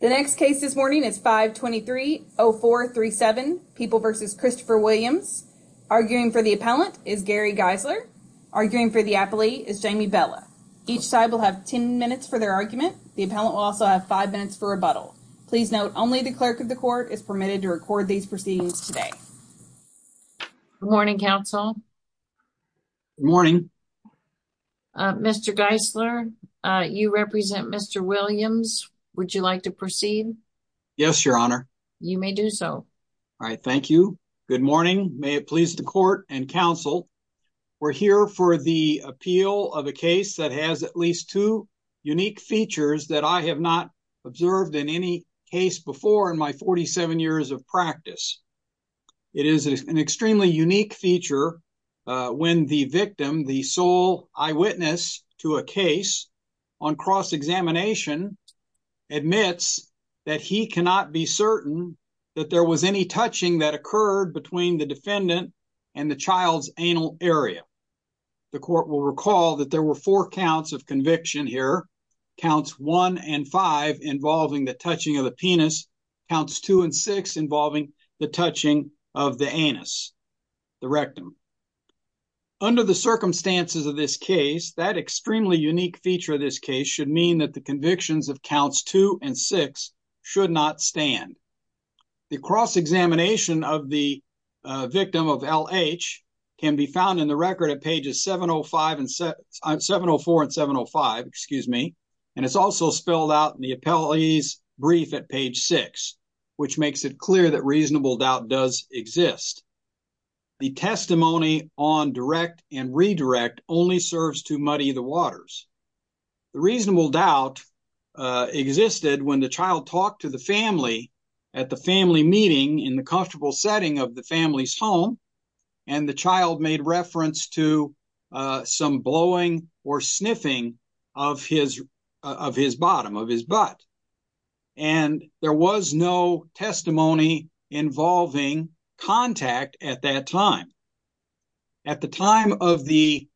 The next case this morning is 523-0437, People v. Christopher Williams. Arguing for the appellant is Gary Geisler. Arguing for the appellee is Jamie Bella. Each side will have 10 minutes for their argument. The appellant will also have five minutes for rebuttal. Please note only the clerk of the court is permitted to record these proceedings today. Good morning, counsel. Good morning. Mr. Geisler, you represent Mr. Williams. Would you like to proceed? Yes, Your Honor. You may do so. All right, thank you. Good morning. May it please the court and counsel, we're here for the appeal of a case that has at least two unique features that I have not observed in any case before in my 47 years of practice. It is an extremely unique feature when the victim, the sole eyewitness to a case on cross-examination, admits that he cannot be certain that there was any touching that occurred between the defendant and the child's anal area. The court will recall that there were four counts of conviction here. Counts one and five involving the touching of the penis. Counts two and six involving the touching of the anus, the rectum. Under the circumstances of this case, that extremely unique feature of this case should mean that the convictions of counts two and six should not stand. The cross-examination of the victim of L.H. can be found in the record at pages 704 and 705, and it's also spelled out in the appellee's brief at page six, which makes it clear that reasonable doubt does exist. The testimony on direct and redirect only serves to muddy the waters. The reasonable doubt existed when the child talked to the family at the family meeting in the comfortable setting of the family's home, and the child made reference to some blowing or sniffing of his bottom, of his butt. And there was no testimony involving contact at that time. At the time of the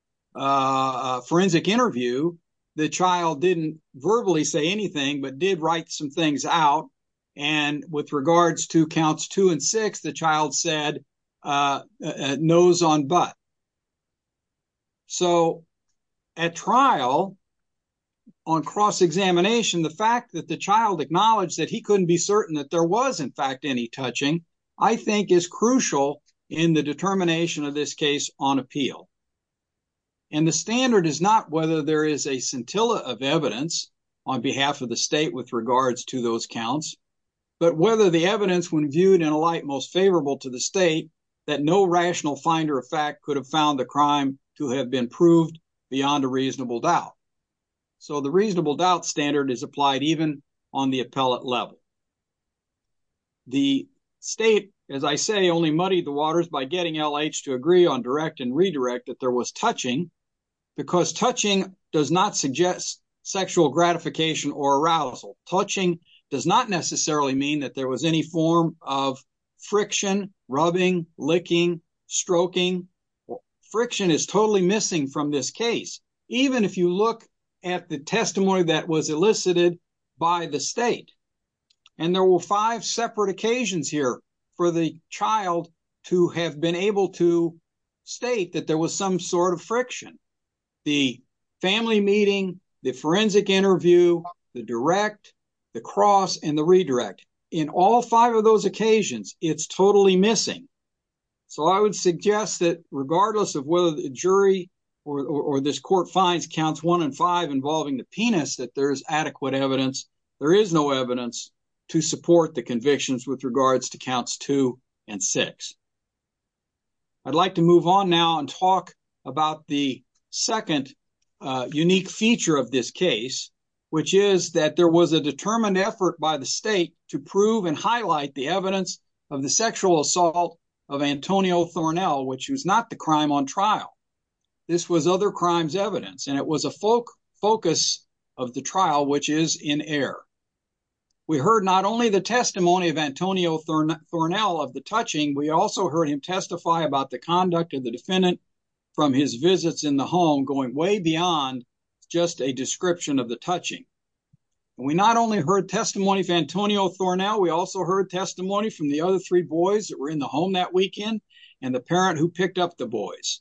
forensic interview, the child didn't verbally say anything but did write some things out, and with regards to counts two and six, the child said, nose on butt. So at trial, on cross-examination, the fact that the I think is crucial in the determination of this case on appeal. And the standard is not whether there is a scintilla of evidence on behalf of the state with regards to those counts, but whether the evidence, when viewed in a light most favorable to the state, that no rational finder of fact could have found the crime to have been proved beyond a reasonable doubt. So the reasonable doubt standard is applied even on the appellate level. The state, as I say, only muddied the waters by getting L.H. to agree on direct and redirect that there was touching, because touching does not suggest sexual gratification or arousal. Touching does not necessarily mean that there was any form of friction, rubbing, licking, stroking. Friction is totally missing from this case, even if you look at the testimony that was elicited by the state. And there were five separate occasions here for the child to have been able to state that there was some sort of friction. The family meeting, the forensic interview, the direct, the cross, and the redirect. In all five of those occasions, it's totally missing. So I would suggest that involving the penis that there is adequate evidence. There is no evidence to support the convictions with regards to counts two and six. I'd like to move on now and talk about the second unique feature of this case, which is that there was a determined effort by the state to prove and highlight the evidence of the sexual assault of Antonio Thornell, which was not the crime on trial. This was other crimes evidence, and it was a focus of the trial, which is in error. We heard not only the testimony of Antonio Thornell of the touching, we also heard him testify about the conduct of the defendant from his visits in the home, going way beyond just a description of the touching. We not only heard testimony of Antonio Thornell, we also heard testimony from the other three boys that were in the home that weekend, and the parent who picked up the boys.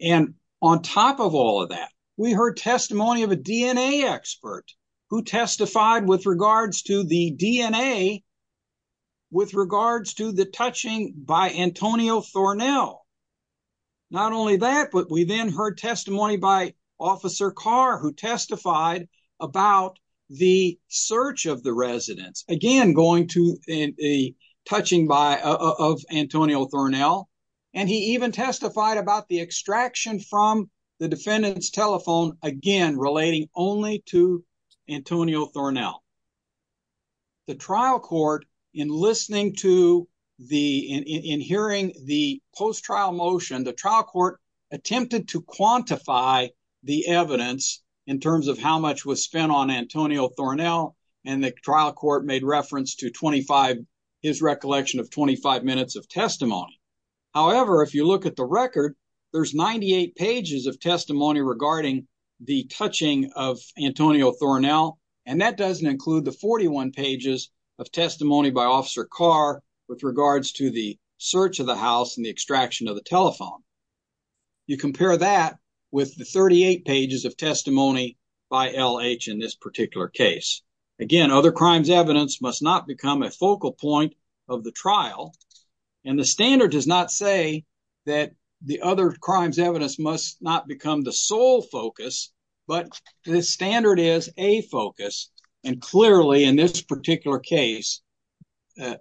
And on top of all of that, we heard testimony of a DNA expert who testified with regards to the DNA with regards to the touching by Antonio Thornell. Not only that, but we then heard testimony by Officer Carr, who testified about the search of the residence, again going to touching of Antonio Thornell, and he even testified about the extraction from the defendant's telephone, again relating only to Antonio Thornell. The trial court, in listening to the, in hearing the post-trial motion, the trial court attempted to quantify the evidence in terms of how much was spent on Antonio Thornell, and the trial court made reference to his recollection of 25 minutes of testimony. However, if you look at the record, there's 98 pages of testimony regarding the touching of Antonio Thornell, and that doesn't include the 41 pages of testimony by Officer Carr with regards to the search of the house and the extraction of the telephone. You compare that with the 38 pages of testimony by L.H. in this particular case. Again, other crimes evidence must not become a focal point of the trial, and the standard does not say that the other crimes evidence must not become the sole focus, but the standard is a focus, and clearly in this particular case,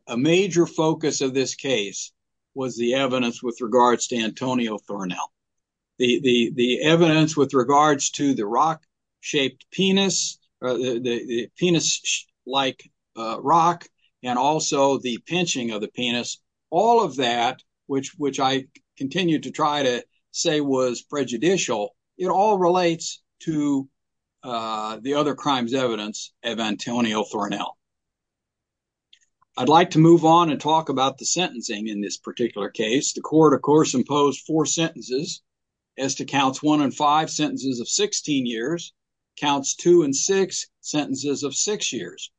a major focus of this case was the evidence with regards to Antonio Thornell. The evidence with regards to the rock-shaped penis, the penis-like rock, and also the pinching of the penis, all of that, which I continue to try to say was prejudicial, it all relates to the other crimes evidence of Antonio Thornell. I'd like to move on and talk about the sentencing in this particular case. The counts one and five sentences of 16 years, counts two and six sentences of six years,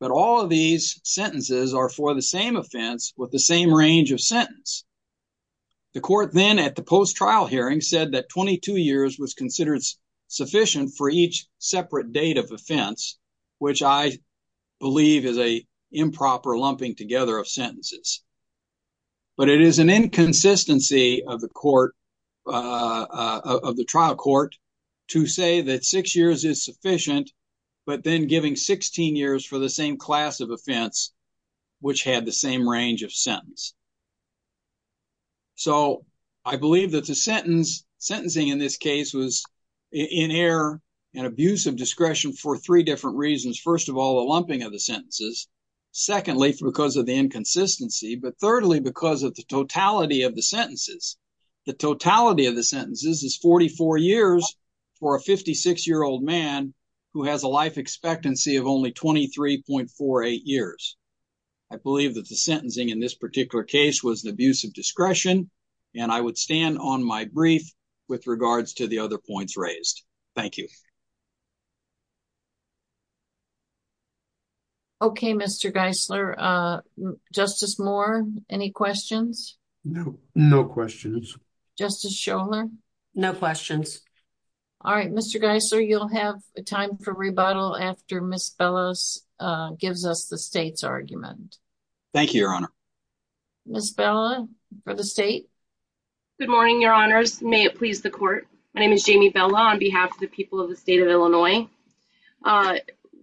but all of these sentences are for the same offense with the same range of sentence. The court then at the post-trial hearing said that 22 years was considered sufficient for each separate date of offense, which I believe is a improper lumping of sentences, but it is an inconsistency of the court, of the trial court, to say that six years is sufficient, but then giving 16 years for the same class of offense, which had the same range of sentence. So, I believe that the sentence, sentencing in this case, was in error and abuse of discretion for three different reasons. First of all, the lumping of the sentences. Secondly, because of the inconsistency, but thirdly, because of the totality of the sentences. The totality of the sentences is 44 years for a 56-year-old man who has a life expectancy of only 23.48 years. I believe that the sentencing in this particular case was the abuse of discretion, and I would stand on my brief with regards to the other points raised. Thank you. Thank you. Okay, Mr. Geisler. Justice Moore, any questions? No, no questions. Justice Scholar? No questions. All right, Mr. Geisler, you'll have a time for rebuttal after Ms. Bella gives us the state's argument. Thank you, Your Honor. Ms. Bella, for the state. Good morning, Your Honors. May it please the court. My name is Jamie Bella on behalf of the people of the state of Illinois.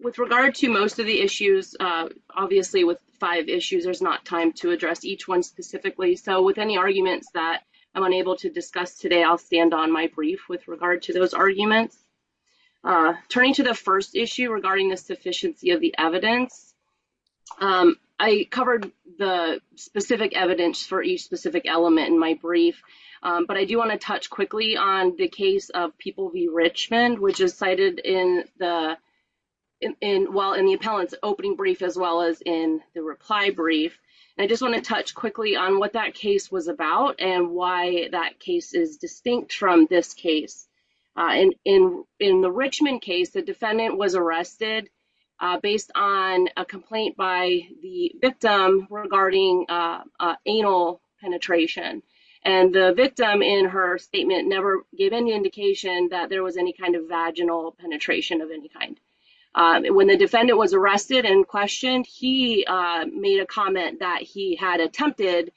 With regard to most of the issues, obviously with five issues, there's not time to address each one specifically, so with any arguments that I'm unable to discuss today, I'll stand on my brief with regard to those arguments. Turning to the first issue regarding the sufficiency of the evidence, I covered the specific evidence for each specific element in my brief, but I do want to touch quickly on the case of People v. Richmond, which is cited in the appellant's opening brief as well as in the reply brief. I just want to touch quickly on what that case was about and why that case is distinct from this case. In the Richmond case, the defendant was arrested based on a complaint by the victim regarding anal penetration. The victim, in her statement, never gave any indication that there was any kind of vaginal penetration of any kind. When the defendant was arrested and questioned, he made a comment that he had attempted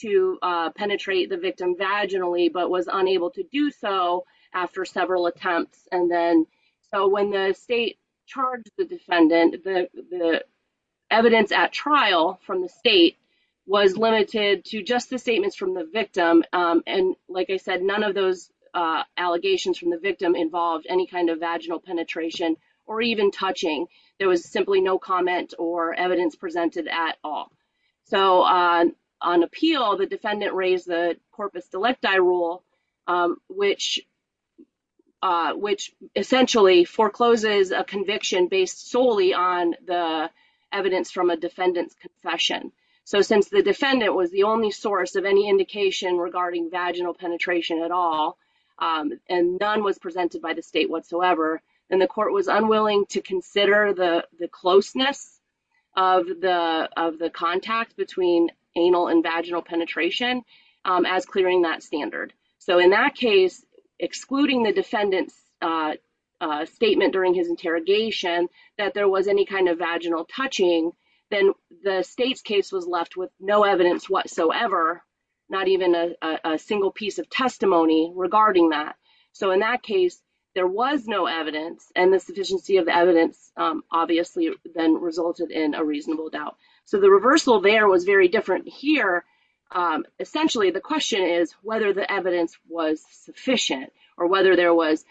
to penetrate the victim vaginally but was unable to do so after several attempts. When the state charged the defendant, the evidence at trial from the state was limited to just the statements from the victim, and like I said, none of those allegations from the victim involved any kind of vaginal penetration or even touching. There was simply no comment or evidence presented at all. On appeal, the defendant raised the corpus delecti rule, which essentially forecloses a conviction based solely on the evidence from a defendant's confession. So since the defendant was the only source of any indication regarding vaginal penetration at all, and none was presented by the state whatsoever, then the court was unwilling to consider the closeness of the contact between anal and vaginal penetration as clearing that standard. So in that case, excluding the defendant's interrogation, that there was any kind of vaginal touching, then the state's case was left with no evidence whatsoever, not even a single piece of testimony regarding that. So in that case, there was no evidence and the sufficiency of the evidence obviously then resulted in a reasonable doubt. So the reversal there was very different here. Essentially, the question is whether the evidence was sufficient or whether there was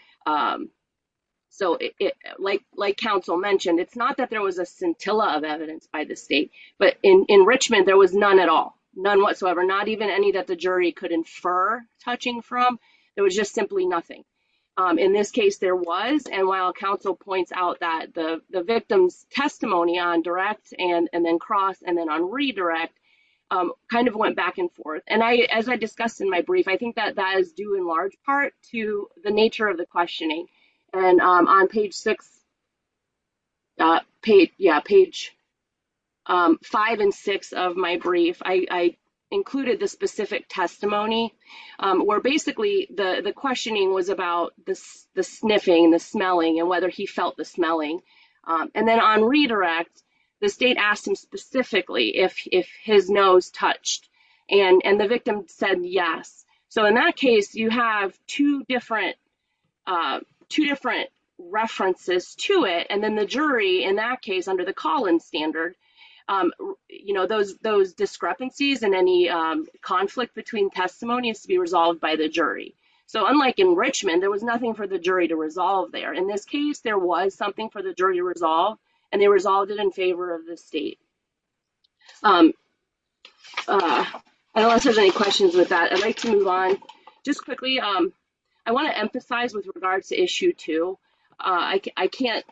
like counsel mentioned. It's not that there was a scintilla of evidence by the state, but in Richmond, there was none at all, none whatsoever, not even any that the jury could infer touching from. There was just simply nothing. In this case, there was, and while counsel points out that the the victim's testimony on direct and then cross and then on redirect kind of went back and forth. And as I discussed in my brief, I think that is due in large part to the nature of the questioning. And on page six, page five and six of my brief, I included the specific testimony where basically the questioning was about the sniffing, the smelling, and whether he felt the smelling. And then on redirect, the state asked him specifically if his nose touched and the victim said yes. So in that case, you have two different references to it. And then the jury, in that case, under the Collins standard, those discrepancies and any conflict between testimony has to be resolved by the jury. So unlike in Richmond, there was nothing for the jury to resolve there. In this case, there was something for the jury to resolve and they resolved it in favor of the state. I don't know if there's any questions with that. I'd like to move on just quickly. I want to emphasize with regards to issue two, I can't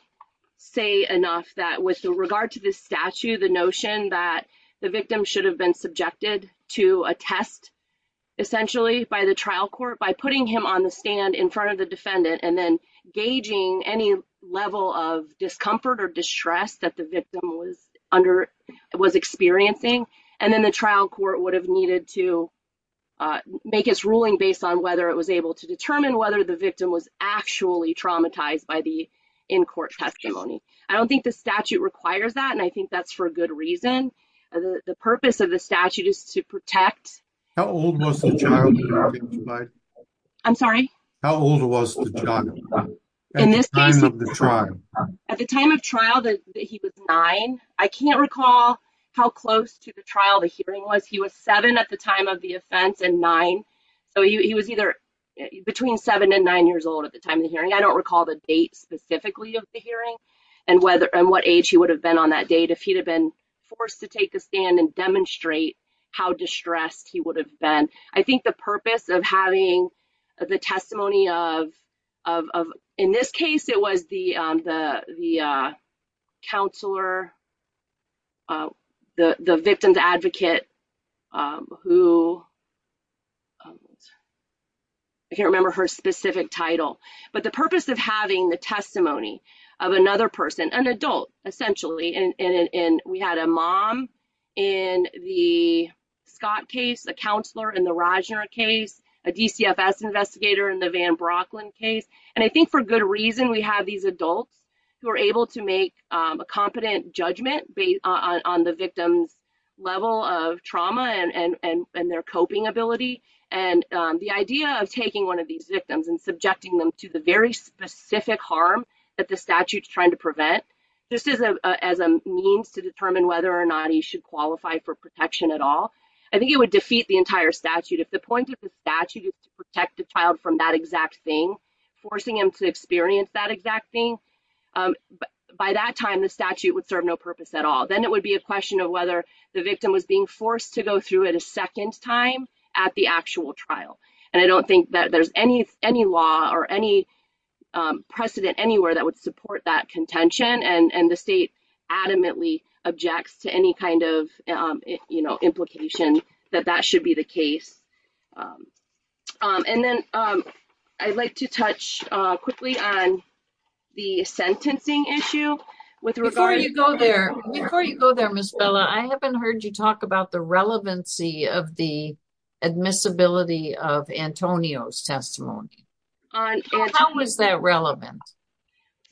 say enough that with regard to this statute, the notion that the victim should have been subjected to a test essentially by the trial court, by putting him on the stand in front of the defendant and then gauging any level of discomfort or distress that the victim was experiencing. And then the trial court would have needed to make his ruling based on whether it was able to determine whether the victim was actually traumatized by the in-court testimony. I don't think the statute requires that and I think that's for a good reason. The purpose of the statute is to protect... How old was the child? I'm sorry? How old was the child? At the time of the trial. At the time of trial, he was nine. I can't recall how close to the trial the hearing was. He was seven at the time of the offense and nine. So he was either between seven and nine years old at the time of the hearing. I don't recall the date specifically of the hearing and what age he would have been on that date if he'd have been forced to take the stand and demonstrate how distressed he would have been. I think the purpose of having the testimony of... In this case, it was the counselor, the victim's advocate who... I can't remember her specific title. But the purpose of having the testimony of another person, an adult essentially, and we had a mom in the Scott case, a counselor in the Rajner case, a DCFS investigator in the Van Brocklin case. And I think for good reason we have these adults who are able to make a competent judgment based on the victim's level of trauma and their coping ability. And the idea of taking one of these victims and subjecting them to the very specific harm that the statute's trying to prevent just as a means to determine whether or not he should qualify for protection at all, I think it would defeat the entire statute to protect the child from that exact thing, forcing him to experience that exact thing. By that time, the statute would serve no purpose at all. Then it would be a question of whether the victim was being forced to go through it a second time at the actual trial. And I don't think that there's any law or any precedent anywhere that would support that contention, and the state adamantly objects to any kind of implication that that should be the And then I'd like to touch quickly on the sentencing issue. Before you go there, before you go there, Ms. Bella, I haven't heard you talk about the relevancy of the admissibility of Antonio's testimony. How was that relevant?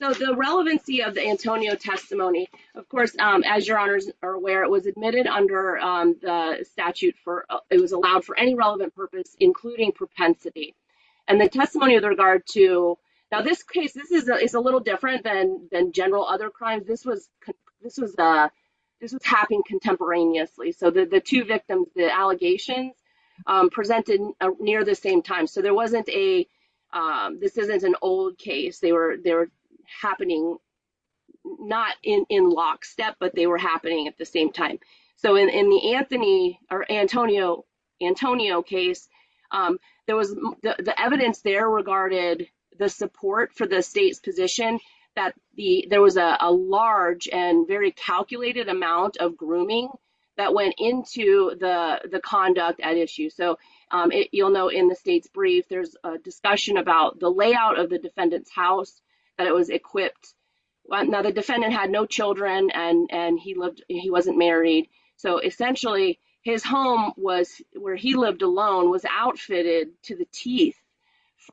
So the relevancy of the Antonio testimony, of course, as your honors are aware, it was admitted under the statute for, it was allowed for any relevant purpose, including propensity. And the testimony with regard to, now this case, this is a little different than general other crimes. This was happening contemporaneously. So the two victims, the allegations, presented near the same time. So there wasn't a, this isn't an old case. They were happening not in lockstep, but they were happening at the same time. So in the Anthony or Antonio case, there was the evidence there regarded the support for the state's position, that there was a large and very calculated amount of grooming that went into the conduct at issue. So you'll know in the state's brief, there's a discussion about the layout of the defendant's house, that it was equipped. Now the defendant had no children and he lived, he wasn't married. So essentially, his home was where he lived alone, was outfitted to the teeth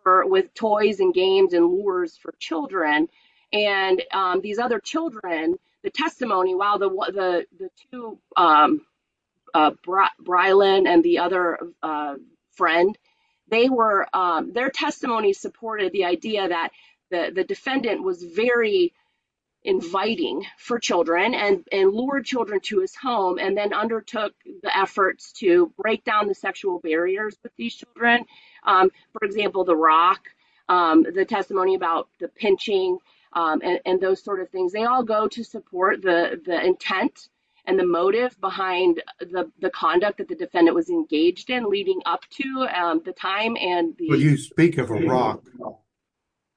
with toys and games and lures for children. And these other children, the testimony, while the two Brylin and the other friend, they were, their testimony supported the idea that the defendant was very inviting for children and lured children to his home and then undertook the efforts to break down the sexual barriers with these children. For example, the rock, the testimony about the pinching and those sort of things, they all go to support the the intent and the motive behind the conduct that the defendant was engaged in leading up to the time. When you speak of a rock,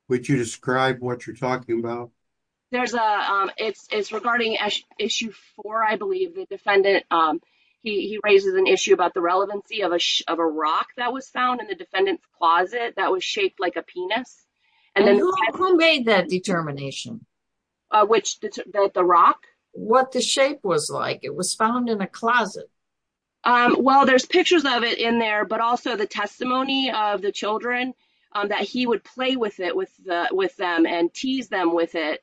would you describe what you're talking about? There's a, it's regarding issue four, I believe, the defendant, he raises an issue about the relevancy of a rock that was found in the defendant's closet that was shaped like a penis. And who made that determination? Which, that the rock? What the shape was like, it was found in a closet. Well, there's pictures of it in there, but also the testimony of the children, that he would play with it with them and tease them with it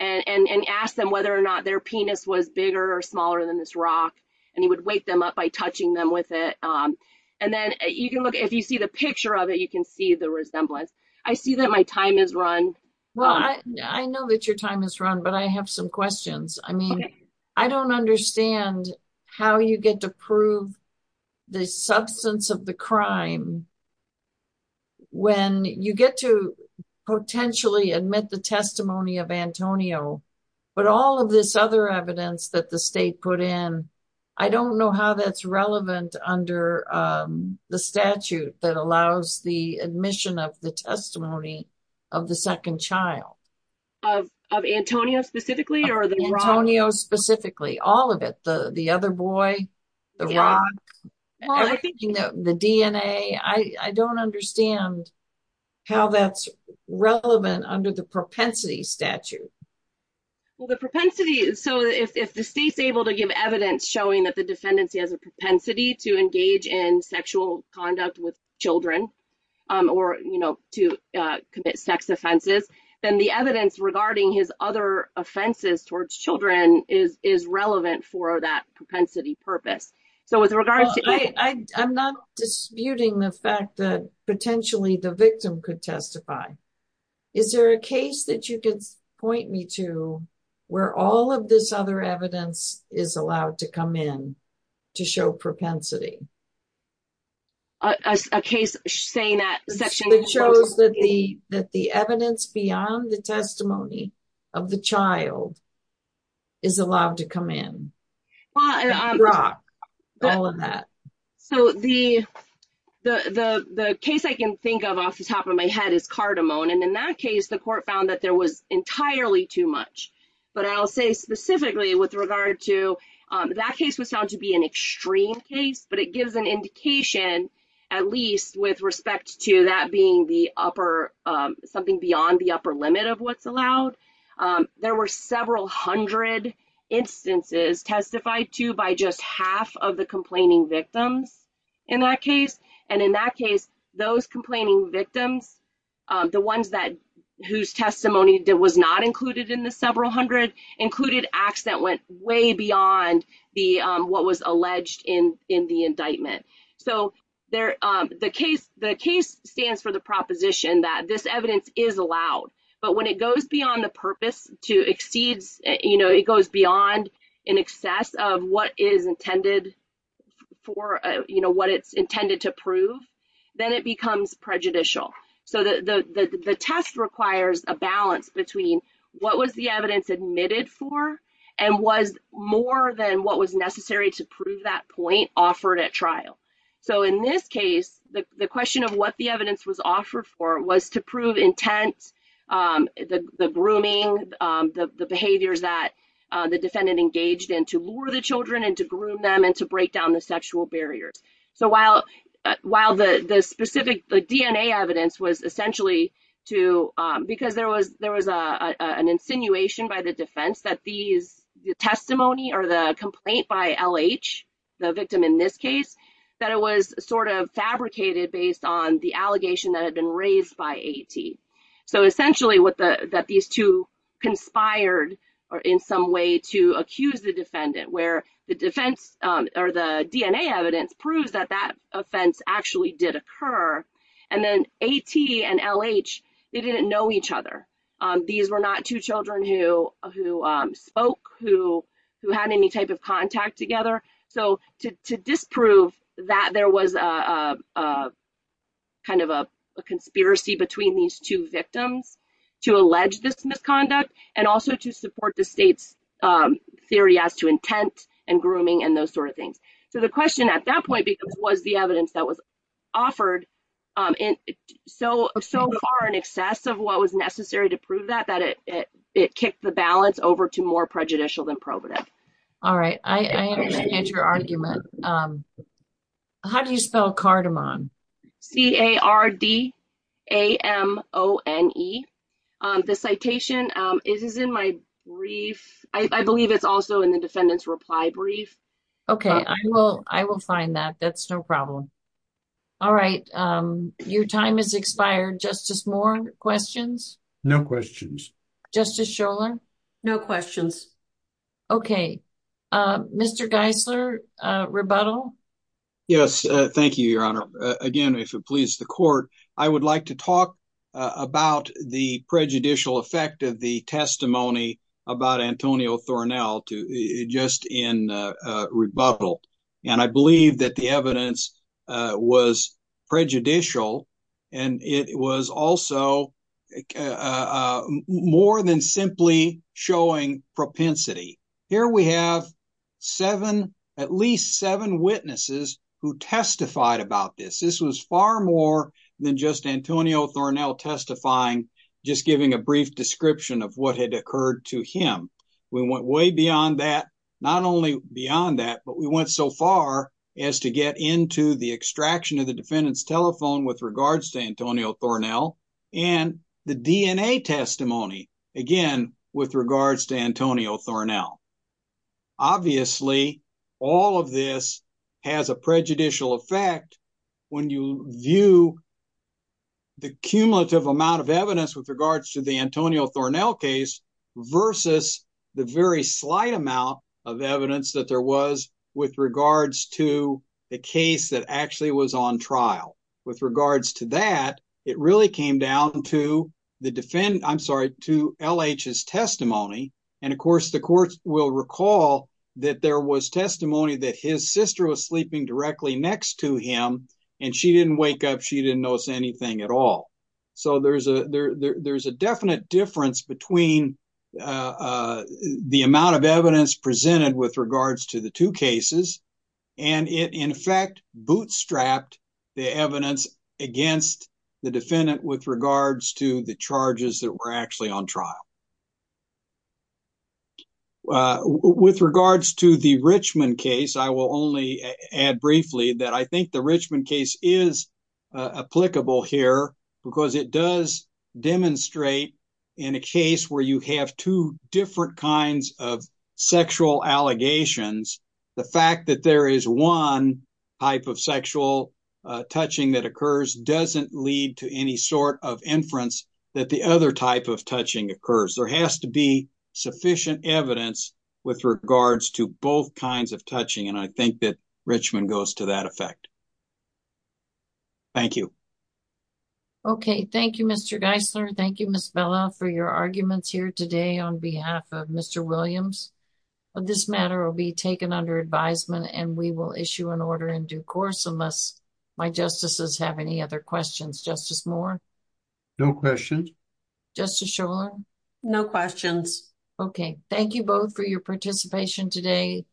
and ask them whether or not their penis was bigger or smaller than this rock. And he would wake them up by touching them with it. And then you can look, if you see the picture of it, you can see the resemblance. I see that my time is run. Well, I know that your time is run, but I have some questions. I mean, I don't understand how you get to prove the substance of the crime when you get to potentially admit the testimony of Antonio, but all of this other evidence that the state put in, I don't know how that's relevant under the statute that allows the admission of the testimony of the second child. Of Antonio, specifically, or the rock? Antonio, specifically, all of it, the other boy, the rock, the DNA. I don't understand how that's relevant under the propensity statute. Well, the propensity, so if the state's able to give evidence showing that the defendant has a propensity to engage in sexual conduct with children or, you know, to commit sex offenses, then the evidence regarding his other purpose. So, with regards to... I'm not disputing the fact that potentially the victim could testify. Is there a case that you could point me to where all of this other evidence is allowed to come in to show propensity? A case saying that... That shows that the evidence beyond the testimony of the child is allowed to come in? The rock, all of that. So, the case I can think of off the top of my head is Cardamone, and in that case, the court found that there was entirely too much, but I'll say specifically with regard to... That case was found to be an extreme case, but it gives an indication, at least, with respect to that being the upper... There were several hundred instances testified to by just half of the complaining victims in that case, and in that case, those complaining victims, the ones whose testimony was not included in the several hundred, included acts that went way beyond what was alleged in the indictment. But when it goes beyond the purpose to exceed, you know, it goes beyond in excess of what is intended for, you know, what it's intended to prove, then it becomes prejudicial. So, the test requires a balance between what was the evidence admitted for and was more than what was necessary to prove that point offered at trial. So, in this case, the question of what the evidence was the grooming, the behaviors that the defendant engaged in to lure the children and to groom them and to break down the sexual barriers. So, while the specific DNA evidence was essentially to... Because there was an insinuation by the defense that these testimony or the complaint by L.H., the victim in this case, that it was sort of fabricated based on the allegation that had been raised by A.T. So, essentially, that these two conspired in some way to accuse the defendant where the defense or the DNA evidence proves that that offense actually did occur. And then A.T. and L.H., they didn't know each other. These were not two children who spoke, who had any type of contact together. So, to disprove that there was a conspiracy between these two victims to allege this misconduct and also to support the state's theory as to intent and grooming and those sort of things. So, the question at that point was the evidence that was offered so far in excess of what was necessary to prove that, that it kicked the balance over to more prejudicial than probative. All right. I understand your argument. How do you spell cardamom? C-A-R-D-A-M-O-N-E. The citation is in my brief. I believe it's also in the defendant's reply brief. Okay. I will find that. That's no problem. All right. Your time has expired. Justice Moore, questions? No questions. Justice Scholar? No questions. Okay. Mr. Geisler, rebuttal? Yes. Thank you, Your Honor. Again, if it pleases the court, I would like to talk about the prejudicial effect of the testimony about Antonio Thornell just in rebuttal. And I believe that the evidence was prejudicial and it was also more than simply showing propensity. Here we have seven, at least seven witnesses who testified about this. This was far more than just Antonio Thornell testifying, just giving a brief description of what had occurred to him. We went way beyond that, not only beyond that, but we went so far as to get into the extraction of the defendant's and the DNA testimony, again, with regards to Antonio Thornell. Obviously, all of this has a prejudicial effect when you view the cumulative amount of evidence with regards to the Antonio Thornell case versus the very slight amount of evidence that there was with regards to the case that actually was on trial. With regards to that, it really came down to the defendant, I'm sorry, to L.H.'s testimony. And, of course, the court will recall that there was testimony that his sister was sleeping directly next to him and she didn't wake up, she didn't notice anything at all. So there's a definite difference between the amount of evidence presented with regards to the two cases and it, in fact, bootstrapped the evidence against the defendant with regards to the charges that were actually on trial. With regards to the Richmond case, I will only add briefly that I think the Richmond case is applicable here because it does demonstrate, in a case where you have two different kinds of touching, the fact that there is one type of sexual touching that occurs doesn't lead to any sort of inference that the other type of touching occurs. There has to be sufficient evidence with regards to both kinds of touching and I think that Richmond goes to that effect. Thank you. Okay, thank you, Mr. Geisler. Thank you, Ms. Bella, for your arguments here today on behalf of Mr. Williams. This matter will be taken under advisement and we will issue an order in due course unless my justices have any other questions. Justice Moore? No questions. Justice Shulman? No questions. Okay, thank you both for your participation today.